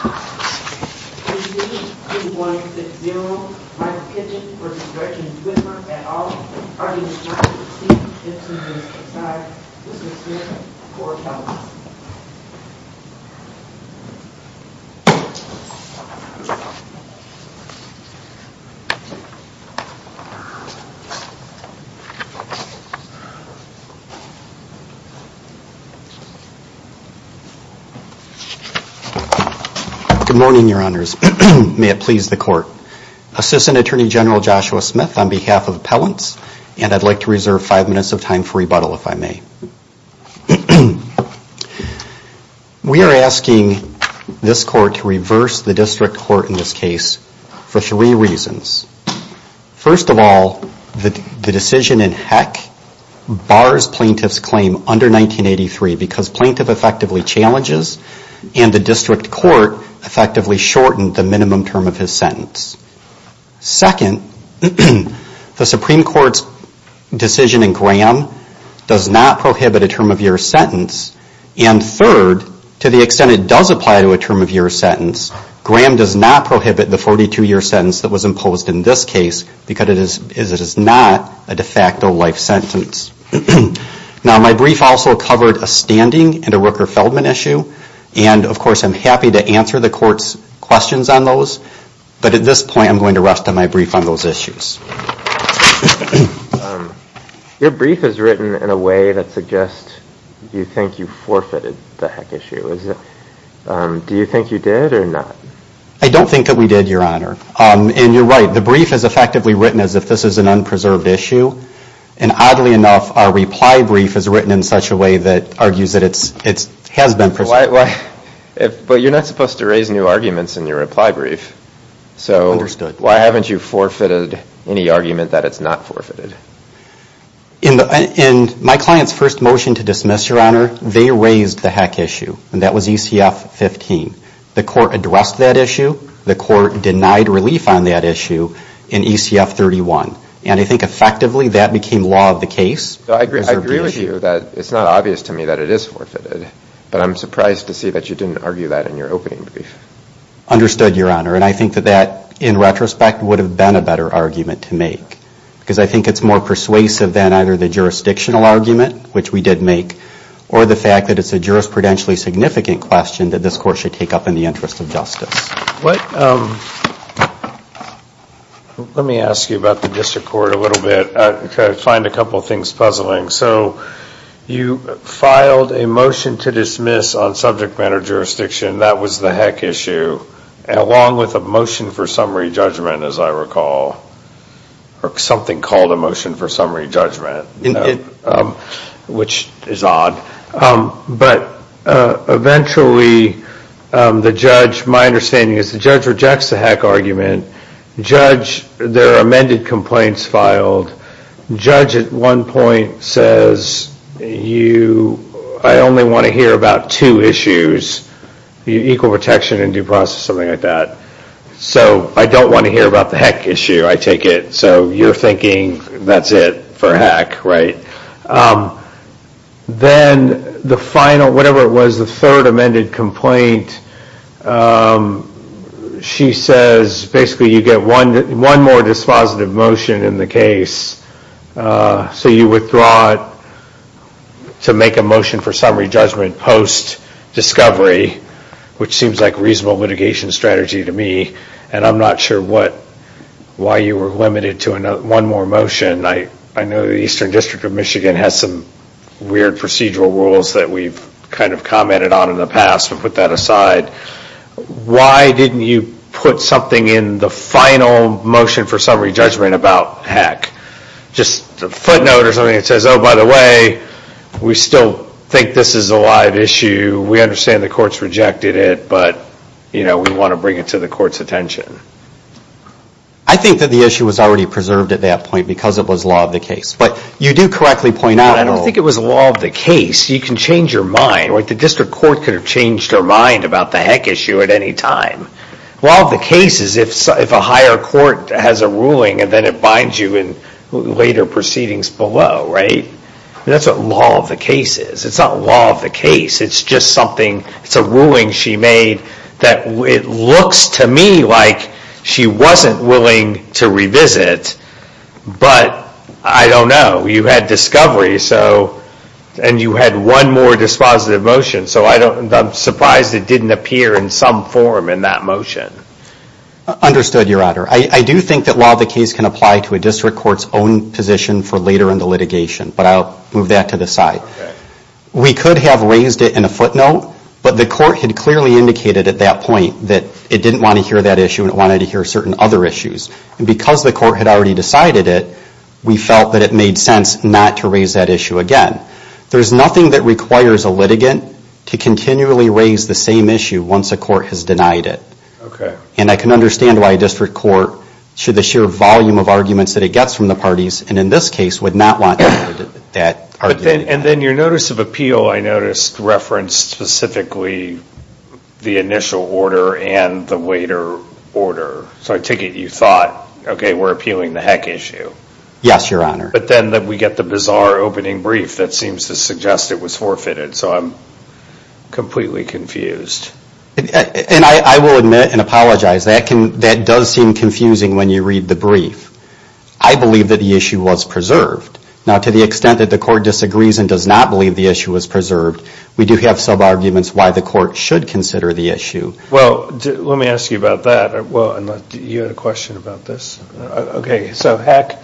A c c to one six zero. Michael Kitchen vs Gretchen Whitmer at all, audience rating 15-15, insiders excise. This is here for a color. Good morning, your honors. May it please the court. Assistant Attorney General Joshua Smith on behalf of appellants, and I'd like to reserve five minutes of time for rebuttal if I may. We are asking this court to reverse the district court in this case for three reasons. First of all, the decision in Heck bars plaintiff's claim under 1983 because plaintiff effectively and the district court effectively shortened the minimum term of his sentence. Second, the Supreme Court's decision in Graham does not prohibit a term of year sentence. And third, to the extent it does apply to a term of year sentence, Graham does not prohibit the 42-year sentence that was imposed in this case because it is not a de facto life sentence. Now my brief also covered a standing and a Rooker-Feldman issue, and of course I'm happy to answer the court's questions on those, but at this point I'm going to rest on my brief on those issues. Your brief is written in a way that suggests you think you forfeited the Heck issue. Do you think you did or not? I don't think that we did, your honor. And you're right, the brief is effectively written as if this is an unpreserved issue, and oddly enough our reply brief is written in such a way that argues that it has been preserved. But you're not supposed to raise new arguments in your reply brief, so why haven't you forfeited any argument that it's not forfeited? In my client's first motion to dismiss, your honor, they raised the Heck issue, and that was ECF 15. The court addressed that issue, the court I agree with you that it's not obvious to me that it is forfeited, but I'm surprised to see that you didn't argue that in your opening brief. Understood, your honor, and I think that that, in retrospect, would have been a better argument to make, because I think it's more persuasive than either the jurisdictional argument, which we did make, or the fact that it's a jurisprudentially significant question that this court should take up in the interest of justice. Let me ask you about the district court a little bit. I find a couple of things puzzling. So you filed a motion to dismiss on subject matter jurisdiction, that was the Heck issue, along with a motion for summary judgment, as I recall, or something called a motion for summary judgment, which is odd. But eventually the judge, my understanding is the judge rejects the Heck argument, the judge, their amended complaints filed, the judge at one point says, I only want to hear about two issues, equal protection and due process, something like that. So I don't want to hear about the Heck issue, I take it, so you're thinking that's it for Heck, right? Then the final, whatever it was, the third amended complaint, she says basically you get one more dispositive motion in the case, so you withdraw it to make a motion for summary judgment post-discovery, which seems like a reasonable litigation strategy to me, and I'm not sure why you were limited to one more motion. I know the Eastern District of Michigan has some weird procedural rules that we've kind of commented on in the past, but put that aside. Why didn't you put something in the final motion for summary judgment about Heck? Just a footnote or something that says, oh, by the way, we still think this is a live issue, we understand the court's rejected it, but we want to bring it to the court's attention. I think that the issue was already preserved at that point because it was law of the case. But you do correctly point out, I don't think it was law of the case, you can change your mind, right? The district court could have changed their mind about the Heck issue at any time. Law of the case is if a higher court has a ruling and then it binds you in later proceedings below, right? That's what law of the case is. It's not law of the case, it's just something, it's a ruling she made that it looks to me like she wasn't willing to revisit, but I don't know. You had discovery, so, and you had one more dispositive motion, so I'm surprised it didn't appear in some form in that motion. Understood, Your Honor. I do think that law of the case can apply to a district court's own position for later in the litigation, but I'll move that to the side. We could have raised it in a footnote, but the court had clearly indicated at that point that it didn't want to hear that issue and it wanted to hear certain other issues. Because the court had already decided it, we felt that it made sense not to raise that issue again. There's nothing that requires a litigant to continually raise the same issue once a court has denied it. And I can understand why a district court, should the sheer volume of arguments that it gets from the parties, and in this case, would not want to hear that argument. And then your notice of appeal, I noticed referenced specifically the initial order and the later order. So I take it you thought, okay, we're appealing the heck issue. Yes, Your Honor. But then we get the bizarre opening brief that seems to suggest it was forfeited. So I'm completely confused. And I will admit and apologize, that does seem confusing when you read the brief. I believe that the issue was preserved. Now to the extent that the court disagrees and does not believe the issue was preserved, we do have some arguments why the court should consider the issue. Well, let me ask you about that. You had a question about this? Okay, so heck.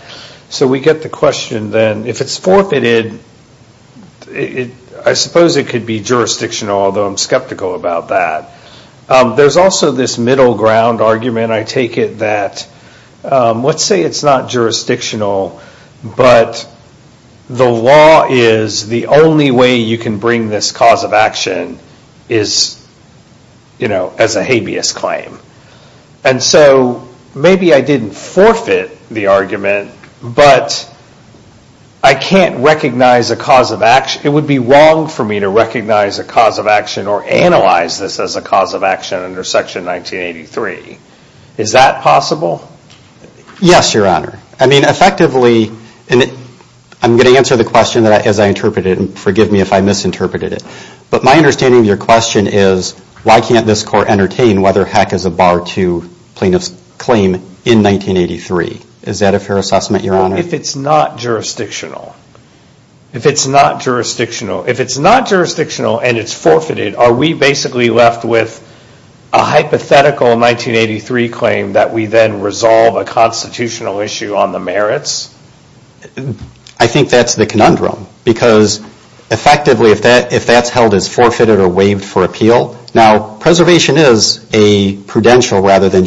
So we get the question then, if it's forfeited, I suppose it could be jurisdictional, although I'm skeptical about that. There's also this middle ground argument, I take it that, let's say it's not jurisdictional, but the law is the only way you can bring this cause of action as a habeas claim. And so, maybe I didn't forfeit the argument, but I can't recognize a cause of action, it would be wrong for me to recognize a cause of action or analyze this as a cause of action under Section 1983. Is that possible? Yes, Your Honor. I mean, effectively, I'm going to answer the question as I interpret it, and forgive me if I misinterpreted it. But my understanding of your question is, why can't this court entertain whether heck is a bar 2 plaintiff's claim in 1983? Is that a fair assessment, Your Honor? If it's not jurisdictional. If it's not jurisdictional, and it's forfeited, are we basically left with a hypothetical 1983 claim that we then resolve a constitutional issue on the merits? I think that's the conundrum, because effectively, if that's held as forfeited or waived for appeal, now preservation is a prudential rather than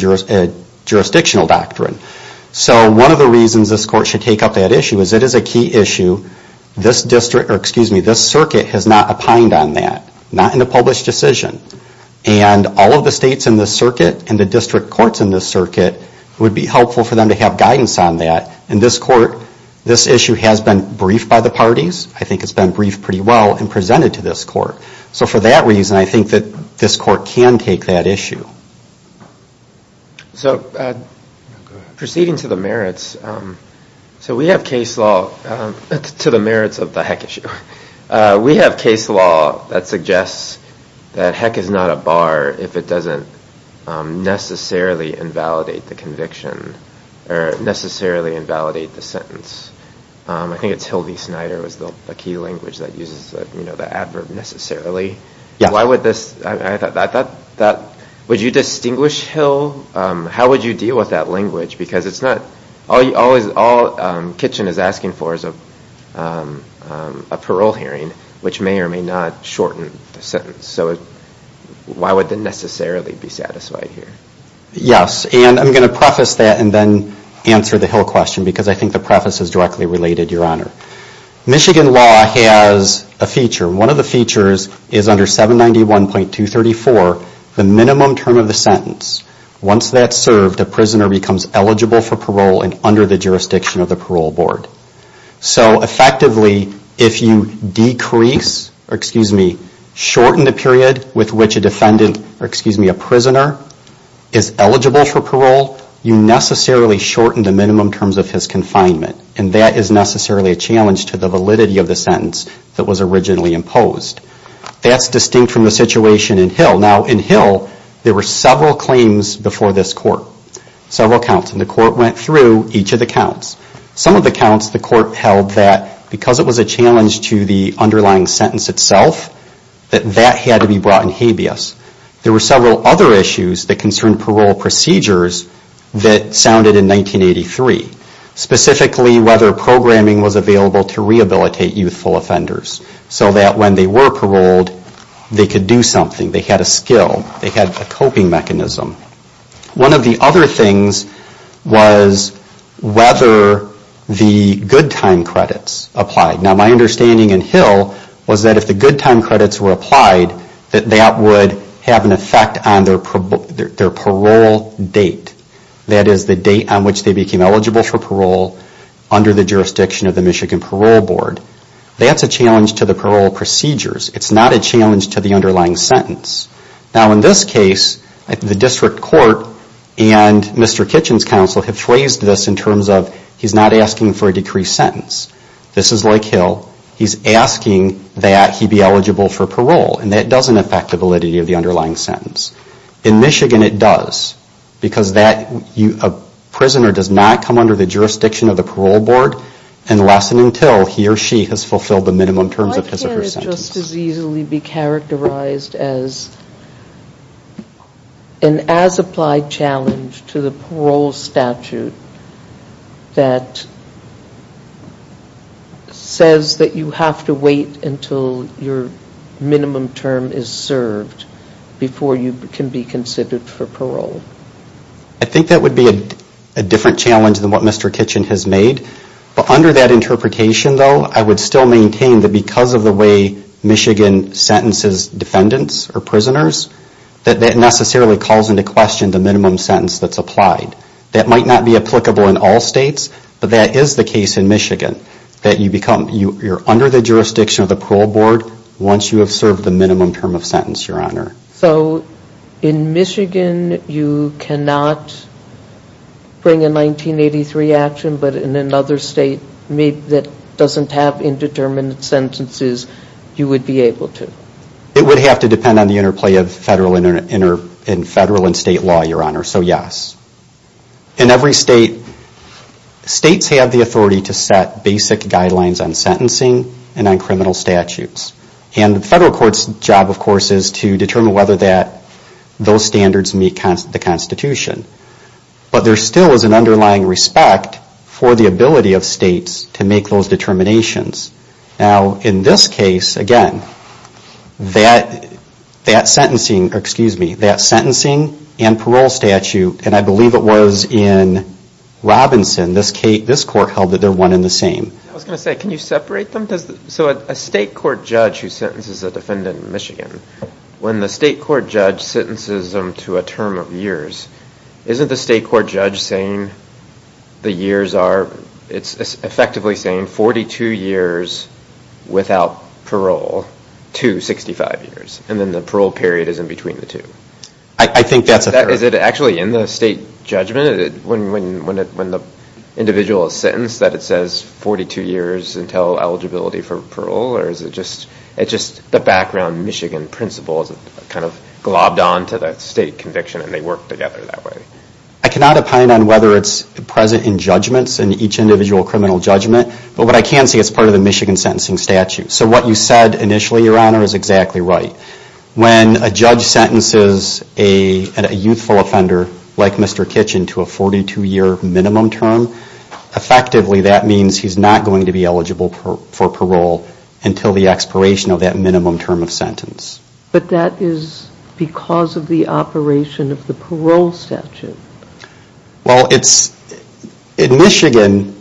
jurisdictional doctrine. So one of the reasons this court should take up that issue is it is a key issue. This circuit has not opined on that, not in a published decision. And all of the states in this circuit and the district courts in this circuit, it would be helpful for them to have guidance on that. And this court, this issue has been briefed by the parties. I think it's been briefed pretty well and presented to this court. So for that reason, I think that this court can take that issue. So proceeding to the merits, so we have case law, to the merits of the heck issue. We have case law that suggests that heck is not a bar if it doesn't necessarily invalidate the conviction or necessarily invalidate the sentence. I think it's Hilde Snyder was the key language that uses the adverb necessarily. Would you distinguish Hill? How would you deal with that language? Because all Kitchen is asking for is a parole hearing, which may or may not shorten the sentence. So why would the necessarily be satisfied here? Yes. And I'm going to preface that and then answer the Hill question because I think the preface is directly related, Your Honor. Michigan law has a feature. One of the features is under 791.234, the minimum term of the sentence. Once that's served, a prisoner becomes eligible for parole and under the jurisdiction of the parole board. So effectively, if you decrease or, excuse me, shorten the period with which a defendant or, excuse me, a prisoner is eligible for parole, you necessarily shorten the minimum terms of his confinement. And that is necessarily a challenge to the validity of the sentence that was originally imposed. That's distinct from the situation in Hill. Now in Hill, there were several claims before this court, several counts. And the court went through each of the counts. Some of the counts the court held that because it was a challenge to the underlying sentence itself, that that had to be brought in habeas. There were several other issues that concerned parole procedures that sounded in 1983. Specifically, whether programming was available to rehabilitate youthful offenders so that when they were paroled, they could do something. They had a skill. They had a coping mechanism. One of the other things was whether the good time credits applied. Now my understanding in Hill was that if the good time credits were applied, that that would have an effect on their parole date. That is the date on which they became eligible for parole under the jurisdiction of the Michigan Parole Board. That's a challenge to the parole procedures. It's not a challenge to the underlying sentence. Now in this case, the district court and Mr. Kitchen's counsel have phrased this in terms of, he's not asking for a decreased sentence. This is like Hill. He's asking that he be eligible for parole. And that doesn't affect the validity of the underlying sentence. In Michigan, it does. Because a prisoner does not come under the jurisdiction of the parole board unless and until he or she has fulfilled the minimum terms of his or her sentence. Would that just as easily be characterized as an as-applied challenge to the parole statute that says that you have to wait until your minimum term is served before you can be considered for parole? I think that would be a different challenge than what Mr. Kitchen has made. But under that interpretation though, I would still maintain that because of the way Michigan sentences defendants or prisoners, that that necessarily calls into question the minimum sentence that's applied. That might not be applicable in all states, but that is the case in Michigan. That you're under the jurisdiction of the parole board once you have served the minimum term of sentence, Your Honor. So in Michigan, you cannot bring a 1983 action, but in another state that doesn't have indeterminate sentences, you would be able to? It would have to depend on the interplay of federal and state law, Your Honor. So yes. In every state, states have the authority to set basic guidelines on sentencing and on criminal statutes. And the federal court's job, of course, is to determine whether those standards meet the Constitution. But there still is an underlying respect for the ability of states to make those determinations. Now in this case, again, that sentencing and parole statute, and I believe it was in Robinson, this court held that they're one and the same. I was going to say, can you separate them? So a state court judge who sentences a defendant in Michigan, when the state court judge sentences them to a term of years, isn't the state court judge saying the years are, it's effectively saying 42 years without parole to 65 years, and then the parole period is in between the two? I think that's a fact. Is it actually in the state judgment, when the individual is sentenced, that it says 42 years until eligibility for parole? Or is it just the background Michigan principles kind of globbed onto that state conviction, and they work together that way? I cannot opine on whether it's present in judgments, in each individual criminal judgment. But what I can say, it's part of the Michigan sentencing statute. So what you said initially, Your Honor, is exactly right. When a judge sentences a youthful offender, like Mr. Kitchen, to a 42 year minimum term, effectively that means he's not going to be eligible for parole until the expiration of that minimum term of sentence. But that is because of the operation of the parole statute. Well, in Michigan,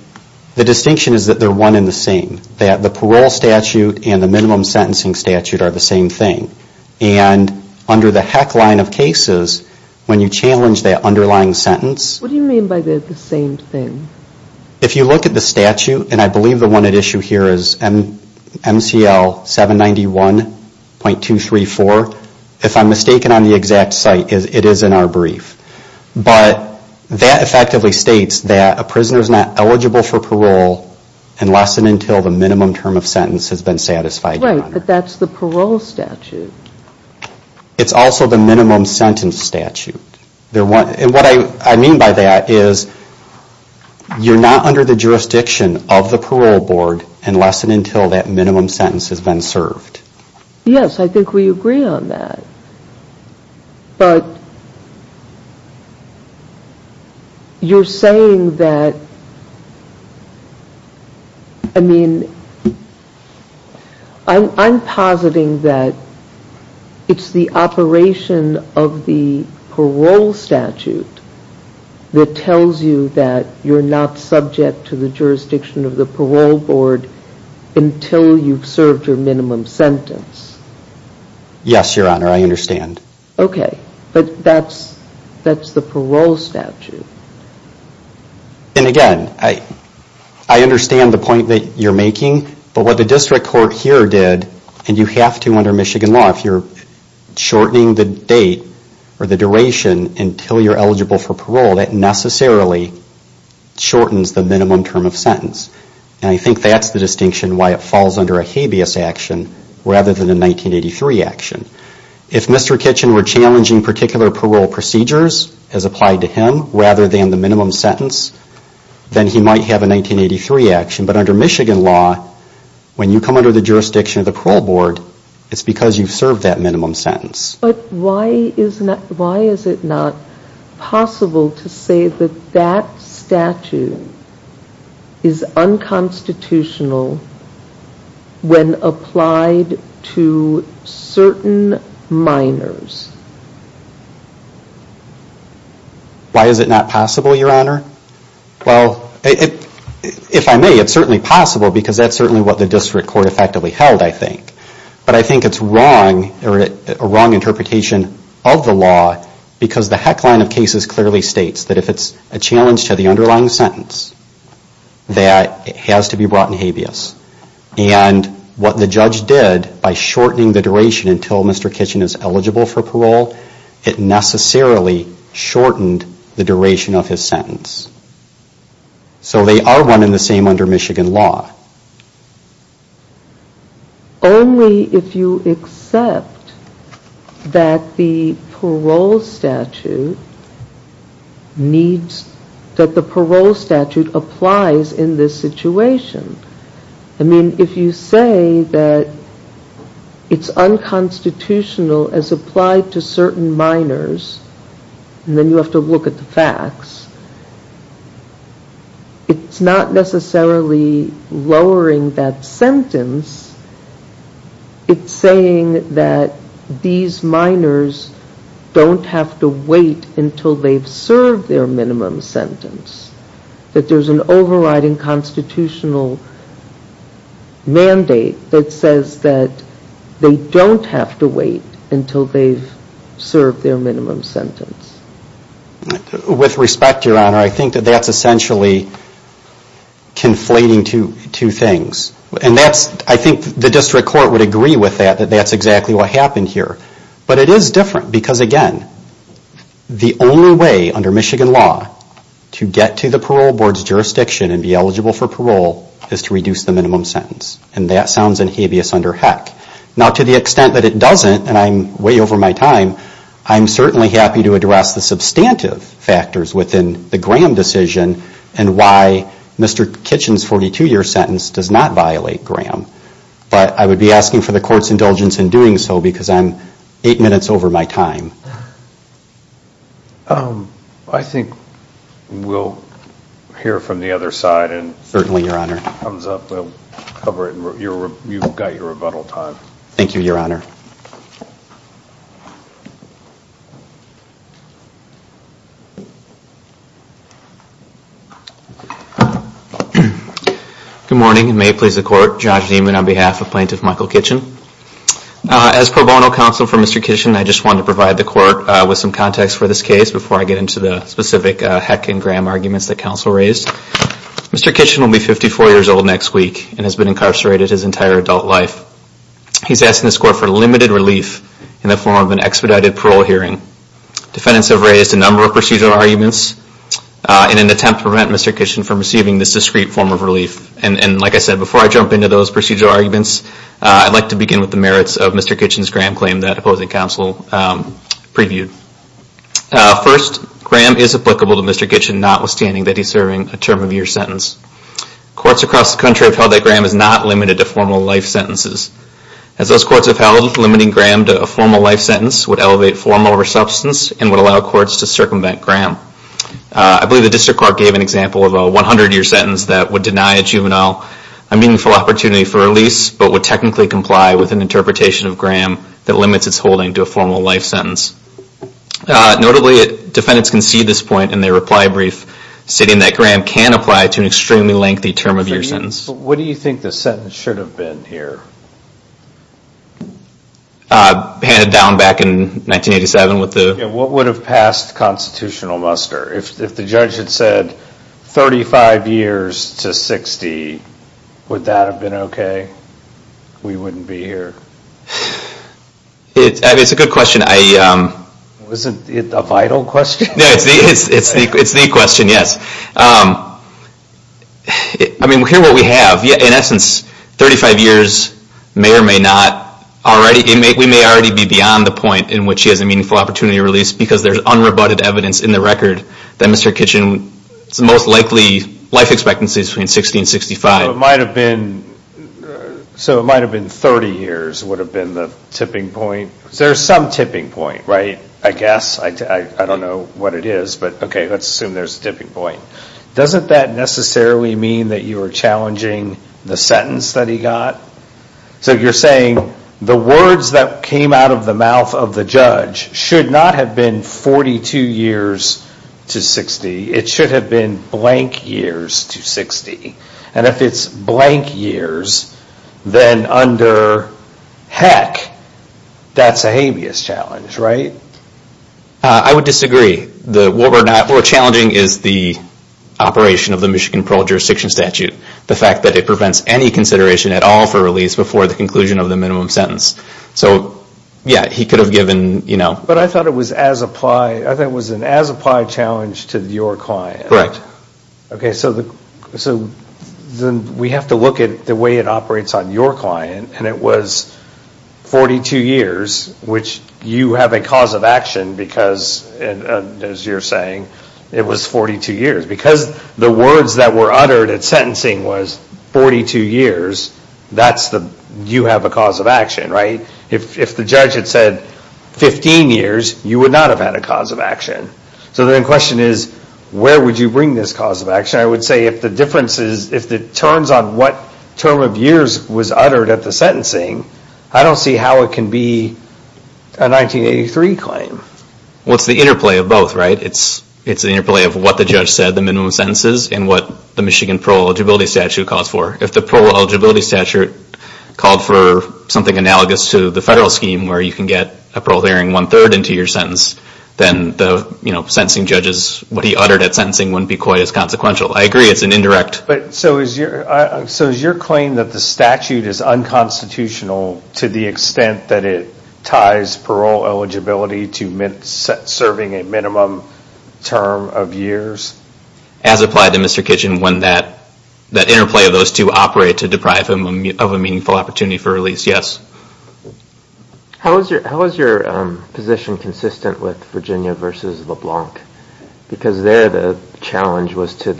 the distinction is that they're one and the same. The parole statute and the minimum sentencing statute are the same thing. And under the heck line of cases, when you challenge that underlying sentence, What do you mean by they're the same thing? If you look at the statute, and I believe the one at issue here is MCL 791.234, if I'm mistaken on the exact site, it is in our brief. But that effectively states that a prisoner is dissatisfied, Your Honor. Right, but that's the parole statute. It's also the minimum sentence statute. And what I mean by that is, you're not under the jurisdiction of the parole board unless and until that minimum sentence has been served. Yes, I think we agree on that. But you're saying that, I mean... I'm positing that it's the operation of the parole statute that tells you that you're not subject to the jurisdiction of the parole board until you've served your minimum sentence. Yes, Your Honor, I understand. Okay, but that's the parole statute. And again, I understand the point that you're making, but what the district court here did, and you have to under Michigan law, if you're shortening the date or the duration until you're eligible for parole, that necessarily shortens the minimum term of sentence. And I think that's the distinction why it falls under a habeas action rather than a 1983 action. If Mr. Kitchen were challenging particular parole procedures as applied to him rather than the minimum sentence, then he might have a 1983 action. But under Michigan law, when you come under the jurisdiction of the parole board, it's because you've served that minimum sentence. But why is it not possible to say that that statute is unconstitutional when applied to certain minors? Why is it not possible, Your Honor? Well, if I may, it's certainly possible because that's certainly what the district court effectively held, I think. But I think it's wrong, or a wrong interpretation of the law, because the heck line of cases clearly states that if it's a challenge to the underlying sentence, that it has to be brought in habeas. And what the judge did by shortening the duration until Mr. Kitchen is eligible for parole, it necessarily shortened the duration of his sentence. So they are running the same under Michigan law. Only if you accept that the parole statute needs, that the parole statute applies in this situation. I mean, if you say that it's unconstitutional as applied to certain minors, and then you have to look at the facts, it's not necessarily lowering that sentence. It's saying that these minors don't have to wait until they've served their minimum sentence, that there's an overriding constitutional mandate that says that they don't have to wait until they've served their minimum sentence. With respect, Your Honor, I think that that's essentially conflating two things. And that's, I think the district court would agree with that, that that's exactly what happened here. But it is different, because again, the only way under Michigan law to get to the parole board's jurisdiction and be eligible for parole is to reduce the minimum sentence. And that sounds in habeas under HEC. Now to the extent that it doesn't, and I'm way over my time, I'm certainly happy to address the substantive factors within the Graham decision and why Mr. Kitchen's 42-year sentence does not violate Graham. But I would be asking for the court's indulgence in doing so because I'm eight minutes over my time. I think we'll hear from the other side and if it comes up, we'll cover it. You've got your rebuttal time. Thank you, Your Honor. Good morning, and may it please the court, Josh Niemann on behalf of Plaintiff Michael Kitchen. As pro bono counsel for Mr. Kitchen, I just wanted to provide the court with some context for this case before I get into the specific HEC and Graham arguments that counsel raised. Mr. Kitchen will be 54 years old next week and has been incarcerated his entire adult life. He's asking this court for limited relief in the form of an expedited parole hearing. Defendants have raised a number of procedural arguments in an attempt to prevent Mr. Kitchen from receiving this discreet form of relief. And like I said, before I jump into those procedural arguments, I'd like to begin with the merits of Mr. Kitchen's Graham claim that opposing counsel previewed. First, Graham is applicable to Mr. Kitchen notwithstanding that he's serving a term of year sentence. Courts across the country have held that Graham is not limited to formal life sentences. As those courts have held, limiting Graham to a formal life sentence would elevate formal resubstance and would allow courts to circumvent Graham. I believe the district court gave an example of a 100 year sentence that would deny a juvenile a meaningful opportunity for release, but would technically comply with an interpretation of Graham that limits its holding to a formal life sentence. Notably, defendants concede this point in their reply brief, stating that Graham can apply to an extremely lengthy term of year sentence. What do you think the sentence should have been here? Handed down back in 1987 with the... What would have passed constitutional muster? If the judge had said 35 years to 60, would that have been okay? We wouldn't be here. It's a good question. Wasn't it a vital question? It's the question, yes. I mean, hear what we have. In essence, 35 years may or may not already... We may already be beyond the point in which he has a meaningful opportunity release because there's unrebutted evidence in the record that Mr. Kitchen's most likely life expectancy is between 60 and 65. So it might have been 30 years would have been the tipping point. There's some tipping point, right? I guess. I don't know what it is, but okay, let's assume there's a tipping point. Doesn't that necessarily mean that you are challenging the sentence that he got? So you're saying the words that came out of the mouth of the judge should not have been 42 years to 60. It should have been blank years to 60. And if it's blank years, then under heck, that's a habeas challenge, right? I would disagree. What we're challenging is the operation of the Michigan Parole Jurisdiction Statute, the fact that it prevents any consideration at all for release before the conclusion of the minimum sentence. So yeah, he could have given... But I thought it was an as-applied challenge to your client. So then we have to look at the way it operates on your client, and it was 42 years, which you have a cause of action because, as you're saying, it was 42 years. Because the words that were uttered at sentencing was 42 years, you have a cause of action, right? If the judge had said 15 years, you would not have had a cause of action. So then the question is, where would you bring this cause of action? I would say if the terms on what term of years was uttered at the sentencing, I don't see how it can be a 1983 claim. Well, it's the interplay of both, right? It's the interplay of what the judge said, the minimum sentences, and what the Michigan Parole Eligibility Statute calls for. If the Parole Eligibility Statute called for something analogous to the federal scheme, where you can get a parole hearing one-third into your sentence, then the sentencing judges, what he uttered at sentencing wouldn't be quite as consequential. I agree it's an indirect... So is your claim that the statute is unconstitutional to the extent that it ties parole eligibility to serving a minimum term of years? As applied to Mr. Kitchen, when that interplay of those two operate to deprive him of a meaningful opportunity for release, yes. How is your position consistent with Virginia versus LeBlanc? Because there the challenge was to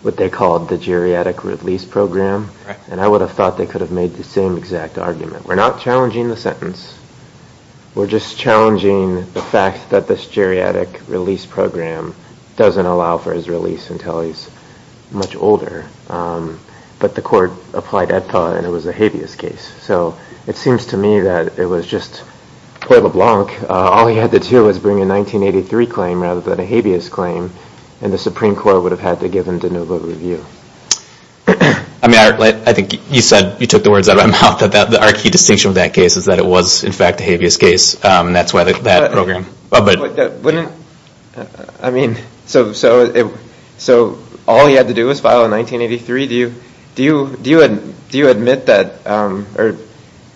what they called the geriatric release program, and I would have thought they could have made the same exact argument. We're not challenging the sentence. We're just challenging the fact that this geriatric release program doesn't allow for his release until he's much older. But the court applied that thought, and it was a habeas case. So it seems to me that it was just, well, LeBlanc, all he had to do was bring a 1983 claim rather than a habeas claim, and the Supreme Court would have had to give him de novo review. I think you said, you took the words out of my mouth, that our key distinction with that case is that it was, in fact, a habeas case, and that's why that program... But wouldn't, I mean, so all he had to do was file a 1983? Do you admit that, or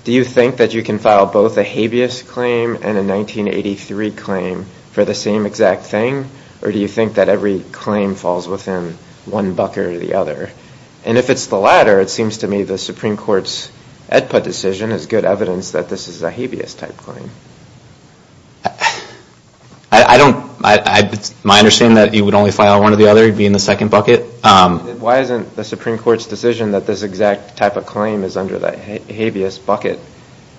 do you think that you can file both a habeas claim and a 1983 claim for the same exact thing, or do you think that every claim falls within one bucket or the other? And if it's the latter, it seems to me the Supreme Court's Edput decision is good evidence that this is a habeas type claim. I don't... My understanding is that he would only file one or the other. He'd be in the second bucket. Why isn't the Supreme Court's decision that this exact type of claim is under the habeas bucket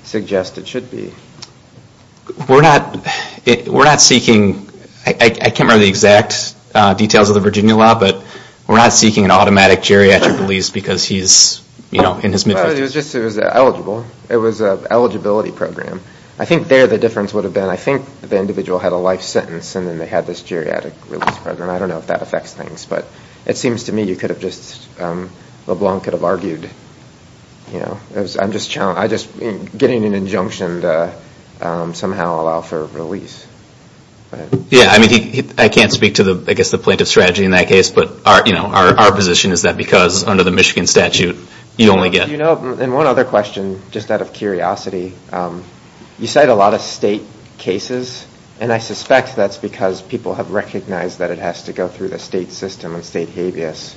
suggest it should be? We're not seeking... I can't remember the exact details of the Virginia law, but we're not seeking an automatic geriatric release because he's, you know, in his mid-fifties. It was just that it was eligible. It was an eligibility program. I think there the difference would have been, I think the individual had a life sentence, and then they had this geriatric release program. I don't know if that affects things, but it seems to me you could have just... LeBlanc could have argued, you know, I'm just challenging... I just... Getting an injunction to somehow allow for release. Yeah, I mean, I can't speak to the, I guess, the plaintiff's strategy in that case, but our, you know, our position is that because under the Michigan statute, you only get... You know, and one other question, just out of curiosity. You cite a lot of state cases, and I suspect that's because people have recognized that it has to go through the state system and state habeas.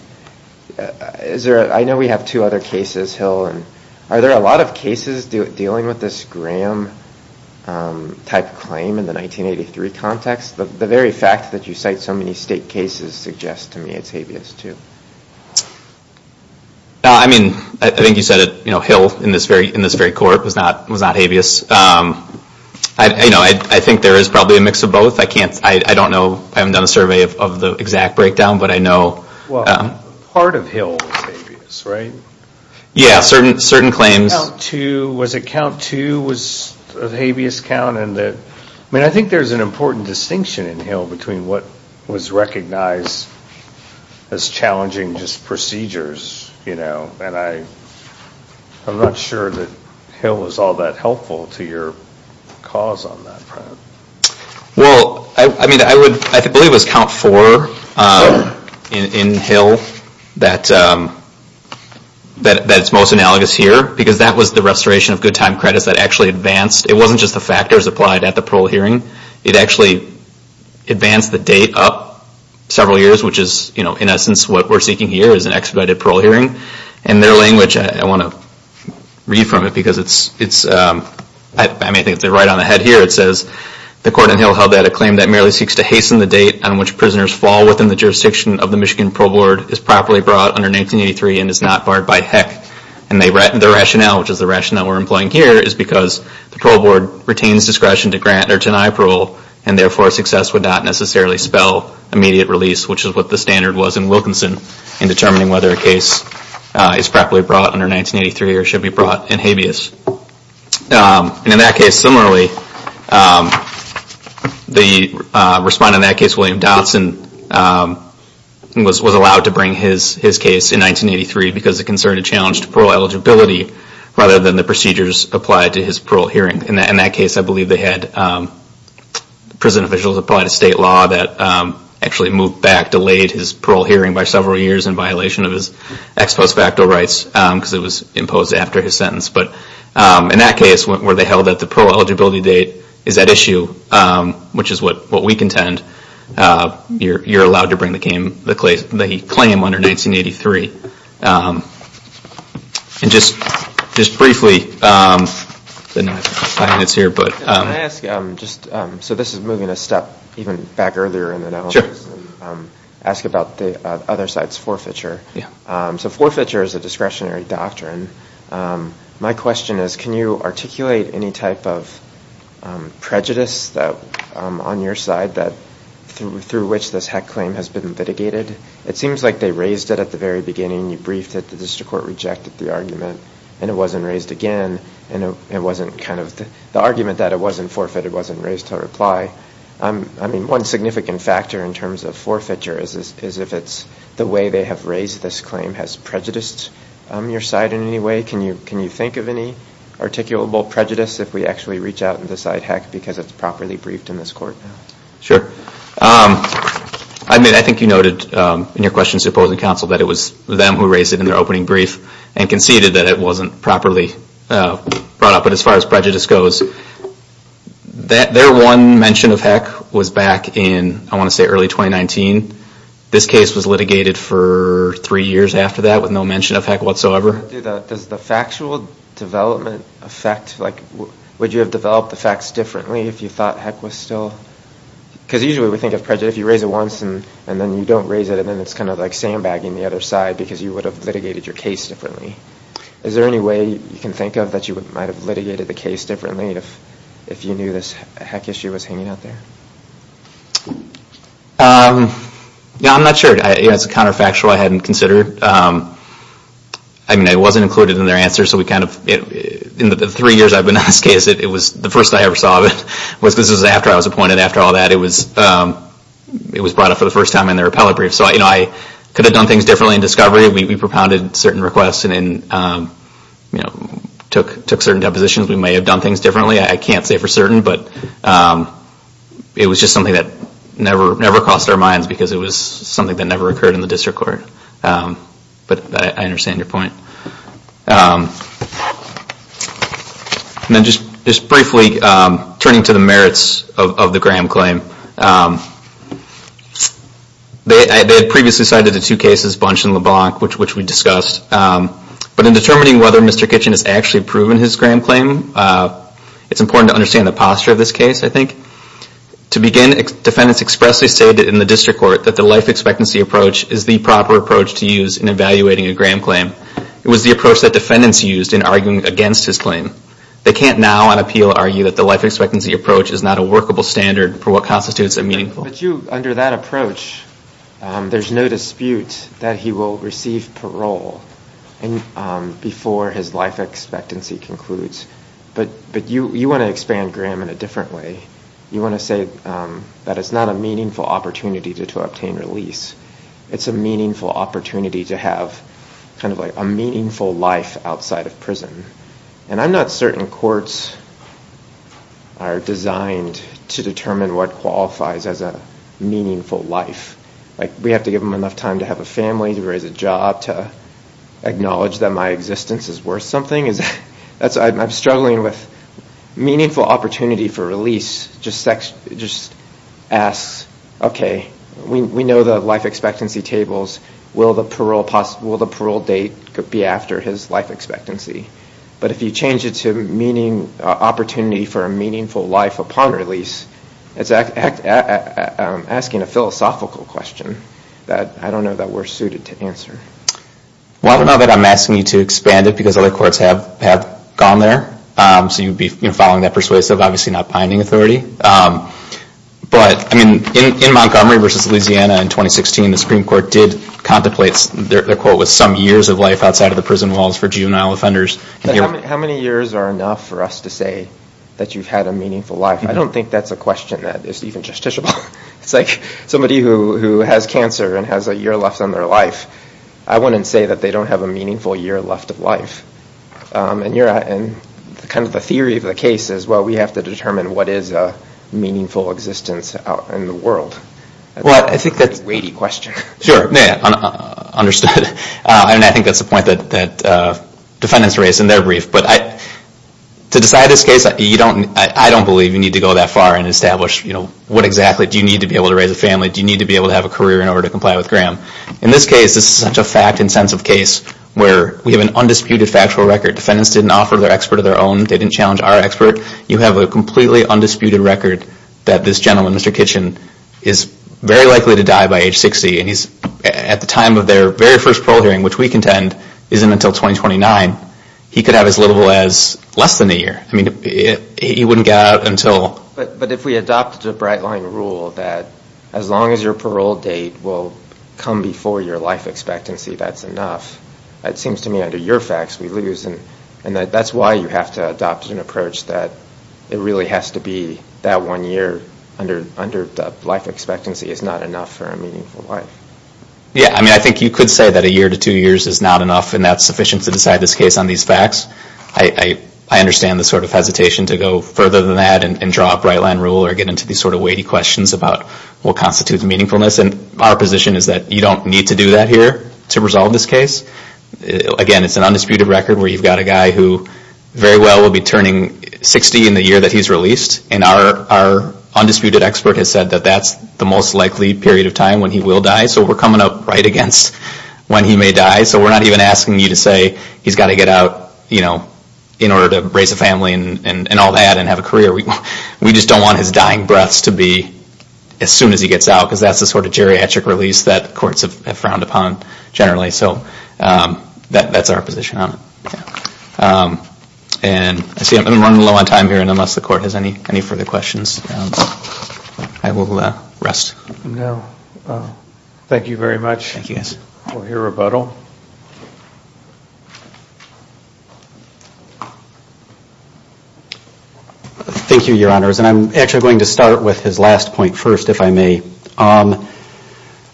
Is there... I know we have two other cases, Hill, and are there a lot of cases dealing with this Graham-type claim in the 1983 context? The very fact that you cite so many state cases suggests to me it's habeas, too. I mean, I think you said it, you know, Hill in this very court was not habeas. You know, I think there is probably a mix of both. I can't... I don't know. I haven't done a survey of the exact breakdown, but I know... Well, part of Hill is habeas, right? Yeah, certain claims... Was it count two was a habeas count, and that... I mean, I think there's an important distinction in Hill between what was recognized as challenging just procedures, you know, and I'm not sure that Hill was all that helpful to your cause on that front. Well, I mean, I would... I believe it was count four in Hill that... That it's most analogous here, because that was the restoration of good time credits that actually advanced... It wasn't just the factors applied at the parole hearing. It actually advanced the date up several years, which is, you know, in essence what we're seeking here is an expedited parole hearing. In their language, I want to read from it, because it's... I mean, I think it's right on the head here. It says, the court in Hill held that a claim that merely seeks to hasten the date on which prisoners fall within the jurisdiction of the Michigan Parole Board is properly brought under 1983 and is not barred by HECC. And the rationale, which is the rationale we're employing here, is because the parole board retains discretion to grant or deny parole, and therefore, success would not necessarily spell immediate release, which is what the standard was in Wilkinson in determining whether a case is properly brought under 1983 or should be brought in habeas. And in that case, similarly, the respondent in that case, William Dotson, said that the parole board was allowed to bring his case in 1983 because it concerned a challenge to parole eligibility rather than the procedures applied to his parole hearing. In that case, I believe they had prison officials apply to state law that actually moved back, delayed his parole hearing by several years in violation of his ex post facto rights, because it was imposed after his sentence. But in that case, where they held that the parole eligibility date is at issue, which is what we contend, you're allowed to bring the claim under 1983. And just briefly, I didn't have five minutes here, but... Can I ask, so this is moving a step even back earlier in the analysis, ask about the other side's forfeiture. So forfeiture is a discretionary doctrine. My question is, can you articulate any type of prejudice on your side through which this heck claim has been litigated? It seems like they raised it at the very beginning. You briefed it. The district court rejected the argument. And it wasn't raised again. And it wasn't kind of... The argument that it wasn't forfeit, it wasn't raised to reply. I mean, one significant factor in terms of forfeiture is if it's the way they have raised this claim has prejudiced your side in any way. Can you think of any articulable prejudice if we actually reach out and decide heck because it's properly briefed in this court? Sure. I mean, I think you noted in your questions to opposing counsel that it was them who raised it in their opening brief and conceded that it wasn't properly brought up. But as far as prejudice goes, their one mention of heck was back in, I want to say, early 2019. This case was litigated for three years after that with no mention of heck whatsoever. Does the factual development affect... Would you have developed the facts differently if you thought heck was still... Because usually we think of prejudice, if you raise it once and then you don't raise it, and then it's kind of like sandbagging the other side because you would have litigated your case differently. Is there any way you can think of that you might have litigated the case differently if you knew this heck issue was hanging out there? I'm not sure. It's a counterfactual I hadn't considered. I mean, it wasn't included in their answer so we kind of... In the three years I've been on this case, it was the first I ever saw of it. This was after I was appointed. After all that, it was brought up for the first time in their appellate brief. So I could have done things differently in discovery. We propounded certain requests and took certain depositions. We may have done things differently. I can't say for certain, but it was just something that never crossed our minds because it was something that never occurred in the district court. But I understand your point. Just briefly, turning to the merits of the Graham claim. They had previously cited the two cases, Bunch and LeBlanc, which we discussed. But in determining whether Mr. Kitchen has actually proven his Graham claim, it's important to understand the posture of this case I think. To begin, defendants expressly stated in the district court that the life expectancy approach is the proper approach to use in evaluating a Graham claim. It was the approach that defendants used in arguing against his claim. They can't now on appeal argue that the life expectancy approach is not a workable standard for what constitutes a meaningful... But you, under that approach, there's no dispute that he will receive parole before his life expectancy concludes. But you want to expand Graham in a different way. You want to say that it's not a meaningful opportunity to obtain release. It's a meaningful opportunity to have a meaningful life outside of prison. And I'm not certain courts are designed to determine what qualifies as a meaningful life. We have to give them enough time to have a meaningful life. I'm struggling with meaningful opportunity for release just asks, okay, we know the life expectancy tables. Will the parole date be after his life expectancy? But if you change it to opportunity for a meaningful life upon release, it's asking a philosophical question that I don't know that we're suited to answer. Well, now that I'm asking you to expand it because other courts have gone there, so you'd be following that persuasive, obviously not binding authority. But, I mean, in Montgomery versus Louisiana in 2016, the Supreme Court did contemplate their quote was some years of life outside of the prison walls for juvenile offenders. How many years are enough for us to say that you've had a meaningful life? I don't think that's a question that is even justiciable. It's like somebody who has cancer and has a year left on their life. I wouldn't say that they don't have a meaningful year left of life. And kind of the theory of the case is, well, we have to determine what is a meaningful existence out in the world. I think that's a weighty question. Sure. Understood. And I think that's the point that defendants raise in their brief. But to decide this case, I don't believe you need to go that far and establish, you know, what exactly do you need to be able to raise a family? Do you need to be able to have a career in order to comply with Graham? In this case, this is such a fact and sense of case where we have an undisputed factual record. Defendants didn't offer their expert of their own. They didn't challenge our expert. You have a completely undisputed record that this gentleman, Mr. Kitchen, is very likely to die by age 60. And he's, at the time of their very first parole hearing, which we contend isn't until 2029, he could have as little as less than a year. I mean, he wouldn't get out until... But if we adopted a bright line rule that as long as your parole date will come before your life expectancy, that's enough. It seems to me under your facts, we lose. And that's why you have to adopt an approach that it really has to be that one year under life expectancy is not enough for a meaningful life. Yeah. I mean, I think you could say that a year to two years is not enough and that's sufficient to decide this case on these facts. I understand the sort of hesitation to go further than that and draw a bright line rule or get into these sort of weighty questions about what constitutes meaningfulness. And our position is that you don't need to do that here to resolve this case. Again, it's an undisputed record where you've got a guy who very well will be turning 60 in the year that he's released. And our undisputed expert has said that that's the most likely period of time when he will die. So we're coming up right against when he may die. So we're not even asking you to say he's got to get out in order to raise a family and all that and have a career. We just don't want his dying breaths to be as soon as he gets out because that's the sort of geriatric release that courts have frowned upon generally. So that's our position on it. And I see I'm running low on time here and unless the court has any further questions, I will rest. Thank you very much for your rebuttal. Thank you, Your Honors. And I'm actually going to start with his last point first if I may.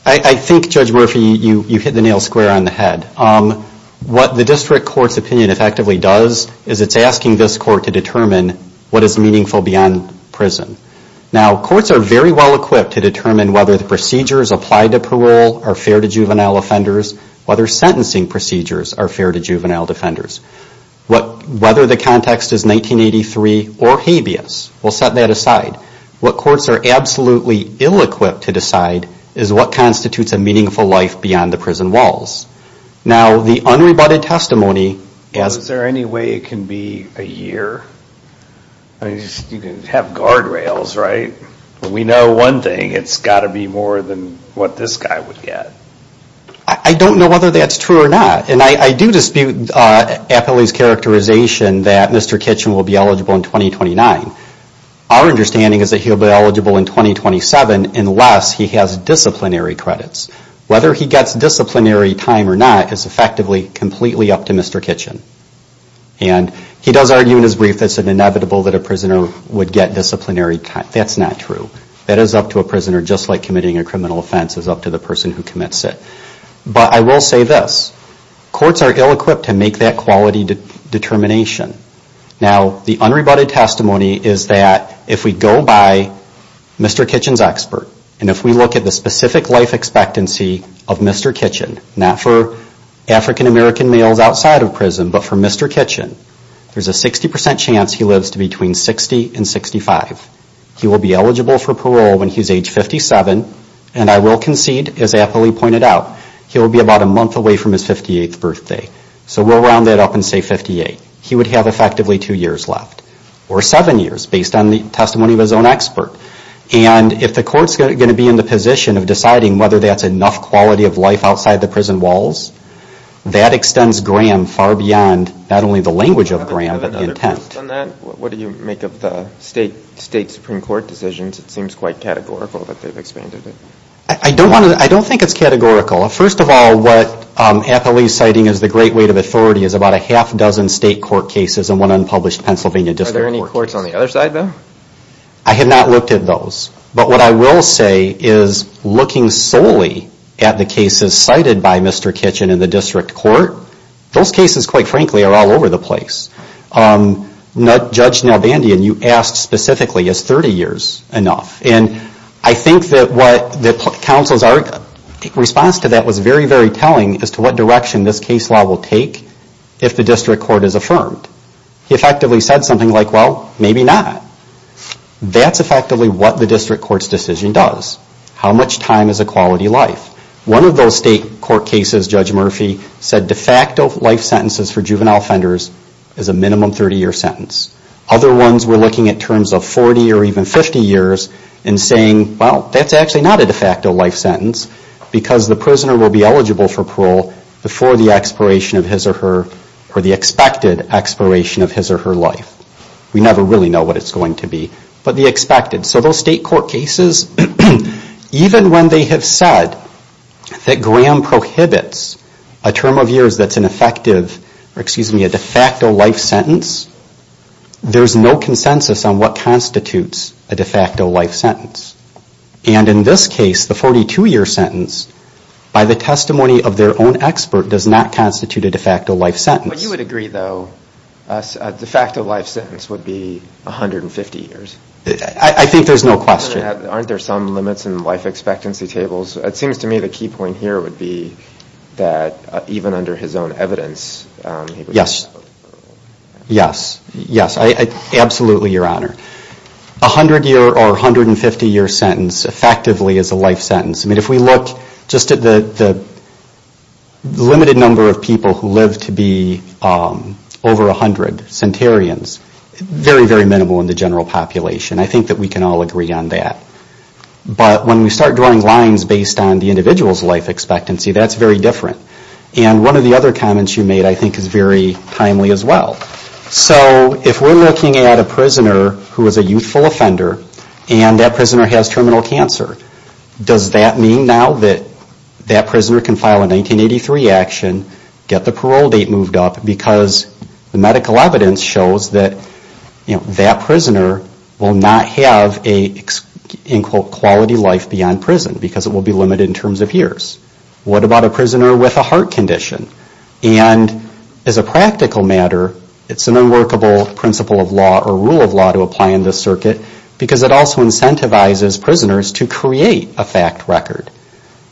I think, Judge Murphy, you hit the nail square on the head. What the district court's opinion effectively does is it's asking this court to determine what is meaningful beyond prison. Now courts are very well equipped to determine whether the procedures applied to parole are fair to juvenile offenders, whether sentencing procedures are fair to juvenile defenders. Whether the context is 1983 or habeas, we'll set that aside. What courts are absolutely ill-equipped to decide is what constitutes a meaningful life beyond the prison walls. Now the unrebutted testimony... Is there any way it can be a year? You can have guardrails, right? We know one thing, it's got to be more than what this guy would get. I don't know whether that's true or not. And I do dispute Appley's characterization that Mr. Kitchen will be eligible in 2029. Our understanding is that he will be eligible in 2027 unless he has disciplinary credits. Whether he gets disciplinary time or not is effectively completely up to Mr. Kitchen. And he does argue in his brief that it's inevitable that a prisoner would get disciplinary time. That's not true. That is up to a prisoner just like committing a criminal offense is up to the person who commits it. But I will say this, courts are ill-equipped to make that quality determination. Now the unrebutted testimony is that if we go by Mr. Kitchen's expert and if we look at the specific life expectancy of Mr. Kitchen, not for African American males outside of prison, but for Mr. Kitchen, there's a 60% chance he lives to between 60 and 65. He will be eligible for parole when he's age 57 and I will concede, as Appley pointed out, he'll be about a month away from his 58th birthday. So we'll round that up and say 58. He would have effectively two years left or seven years based on the testimony of his own expert. And if the court's going to be in the position of deciding whether that's enough quality of life outside the prison walls, that extends Graham far beyond not only the language of Graham but the intent. What do you make of the state Supreme Court decisions? It seems quite categorical that they've expanded it. I don't think it's categorical. First of all, what Appley's citing as the great weight of authority is about a half dozen state court cases and one unpublished Pennsylvania District Court case. Are there any courts on the other side though? I have not looked at those. But what I will say is looking solely at the cases cited by Mr. Kitchen in the District Court, those cases, quite frankly, are all over the place. Judge Nalbandian, you asked specifically, is 30 years enough? And I think that counsel's response to that was very, very telling as to what direction this case law will take if the District Court is feeling like, well, maybe not. That's effectively what the District Court's decision does. How much time is a quality of life? One of those state court cases, Judge Murphy, said de facto life sentences for juvenile offenders is a minimum 30-year sentence. Other ones were looking at terms of 40 or even 50 years and saying, well, that's actually not a de facto life sentence because the prisoner will be eligible for parole before the expiration of his or her or the expected expiration of his or her life. We never really know what it's going to be, but the expected. So those state court cases, even when they have said that Graham prohibits a term of years that's an effective, or excuse me, a de facto life sentence, there's no consensus on what constitutes a de facto life sentence. And in this case, the 42-year sentence, by the testimony of their own expert, does not constitute a de facto life sentence. But you would agree, though, a de facto life sentence would be 150 years? I think there's no question. Aren't there some limits in life expectancy tables? It seems to me the key point here would be that even under his own evidence... Yes. Yes. Yes. Absolutely, Your Honor. A 100-year or 150-year sentence effectively is a life sentence. I mean, if we look just at the limited number of people who live to be over 100 centenarians, very, very minimal in the general population. I think that we can all agree on that. But when we start drawing lines based on the individual's life expectancy, that's very different. And one of the other comments you made I think is very timely as well. So if we're looking at a prisoner who is a youthful offender and that prisoner has terminal cancer, does that mean now that that prisoner can file a 1983 action, get the parole date moved up because the medical evidence shows that that prisoner will not have a, in quote, quality life beyond prison because it will be limited in terms of years? What about a prisoner with a heart condition? And as a practical matter, it's an unworkable principle of law or rule of law to apply in this circuit because it also incentivizes prisoners to create a fact record.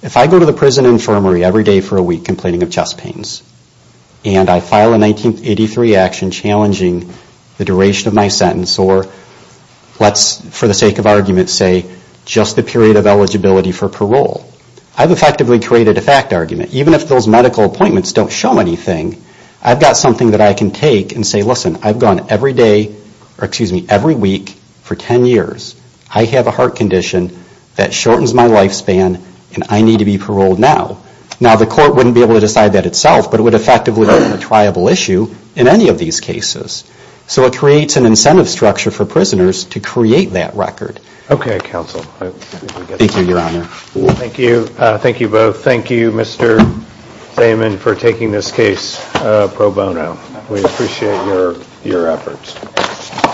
If I go to the prison infirmary every day for a week complaining of chest pains and I file a 1983 action challenging the duration of my sentence or let's, for the sake of argument, say just the period of eligibility for parole, I've effectively created a fact argument. Even if those medical appointments don't show anything, I've got something that I can take and say, listen, I've gone every day, or excuse me, every week for 10 years. I have a heart condition that shortens my lifespan and I need to be paroled now. Now the court wouldn't be able to decide that itself, but it would effectively be a triable issue in any of these cases. So it creates an incentive structure for prisoners to create that record. Okay, counsel. Thank you, Your Honor. Thank you both. Thank you, Mr. Zayman, for taking this case pro bono. We appreciate your efforts.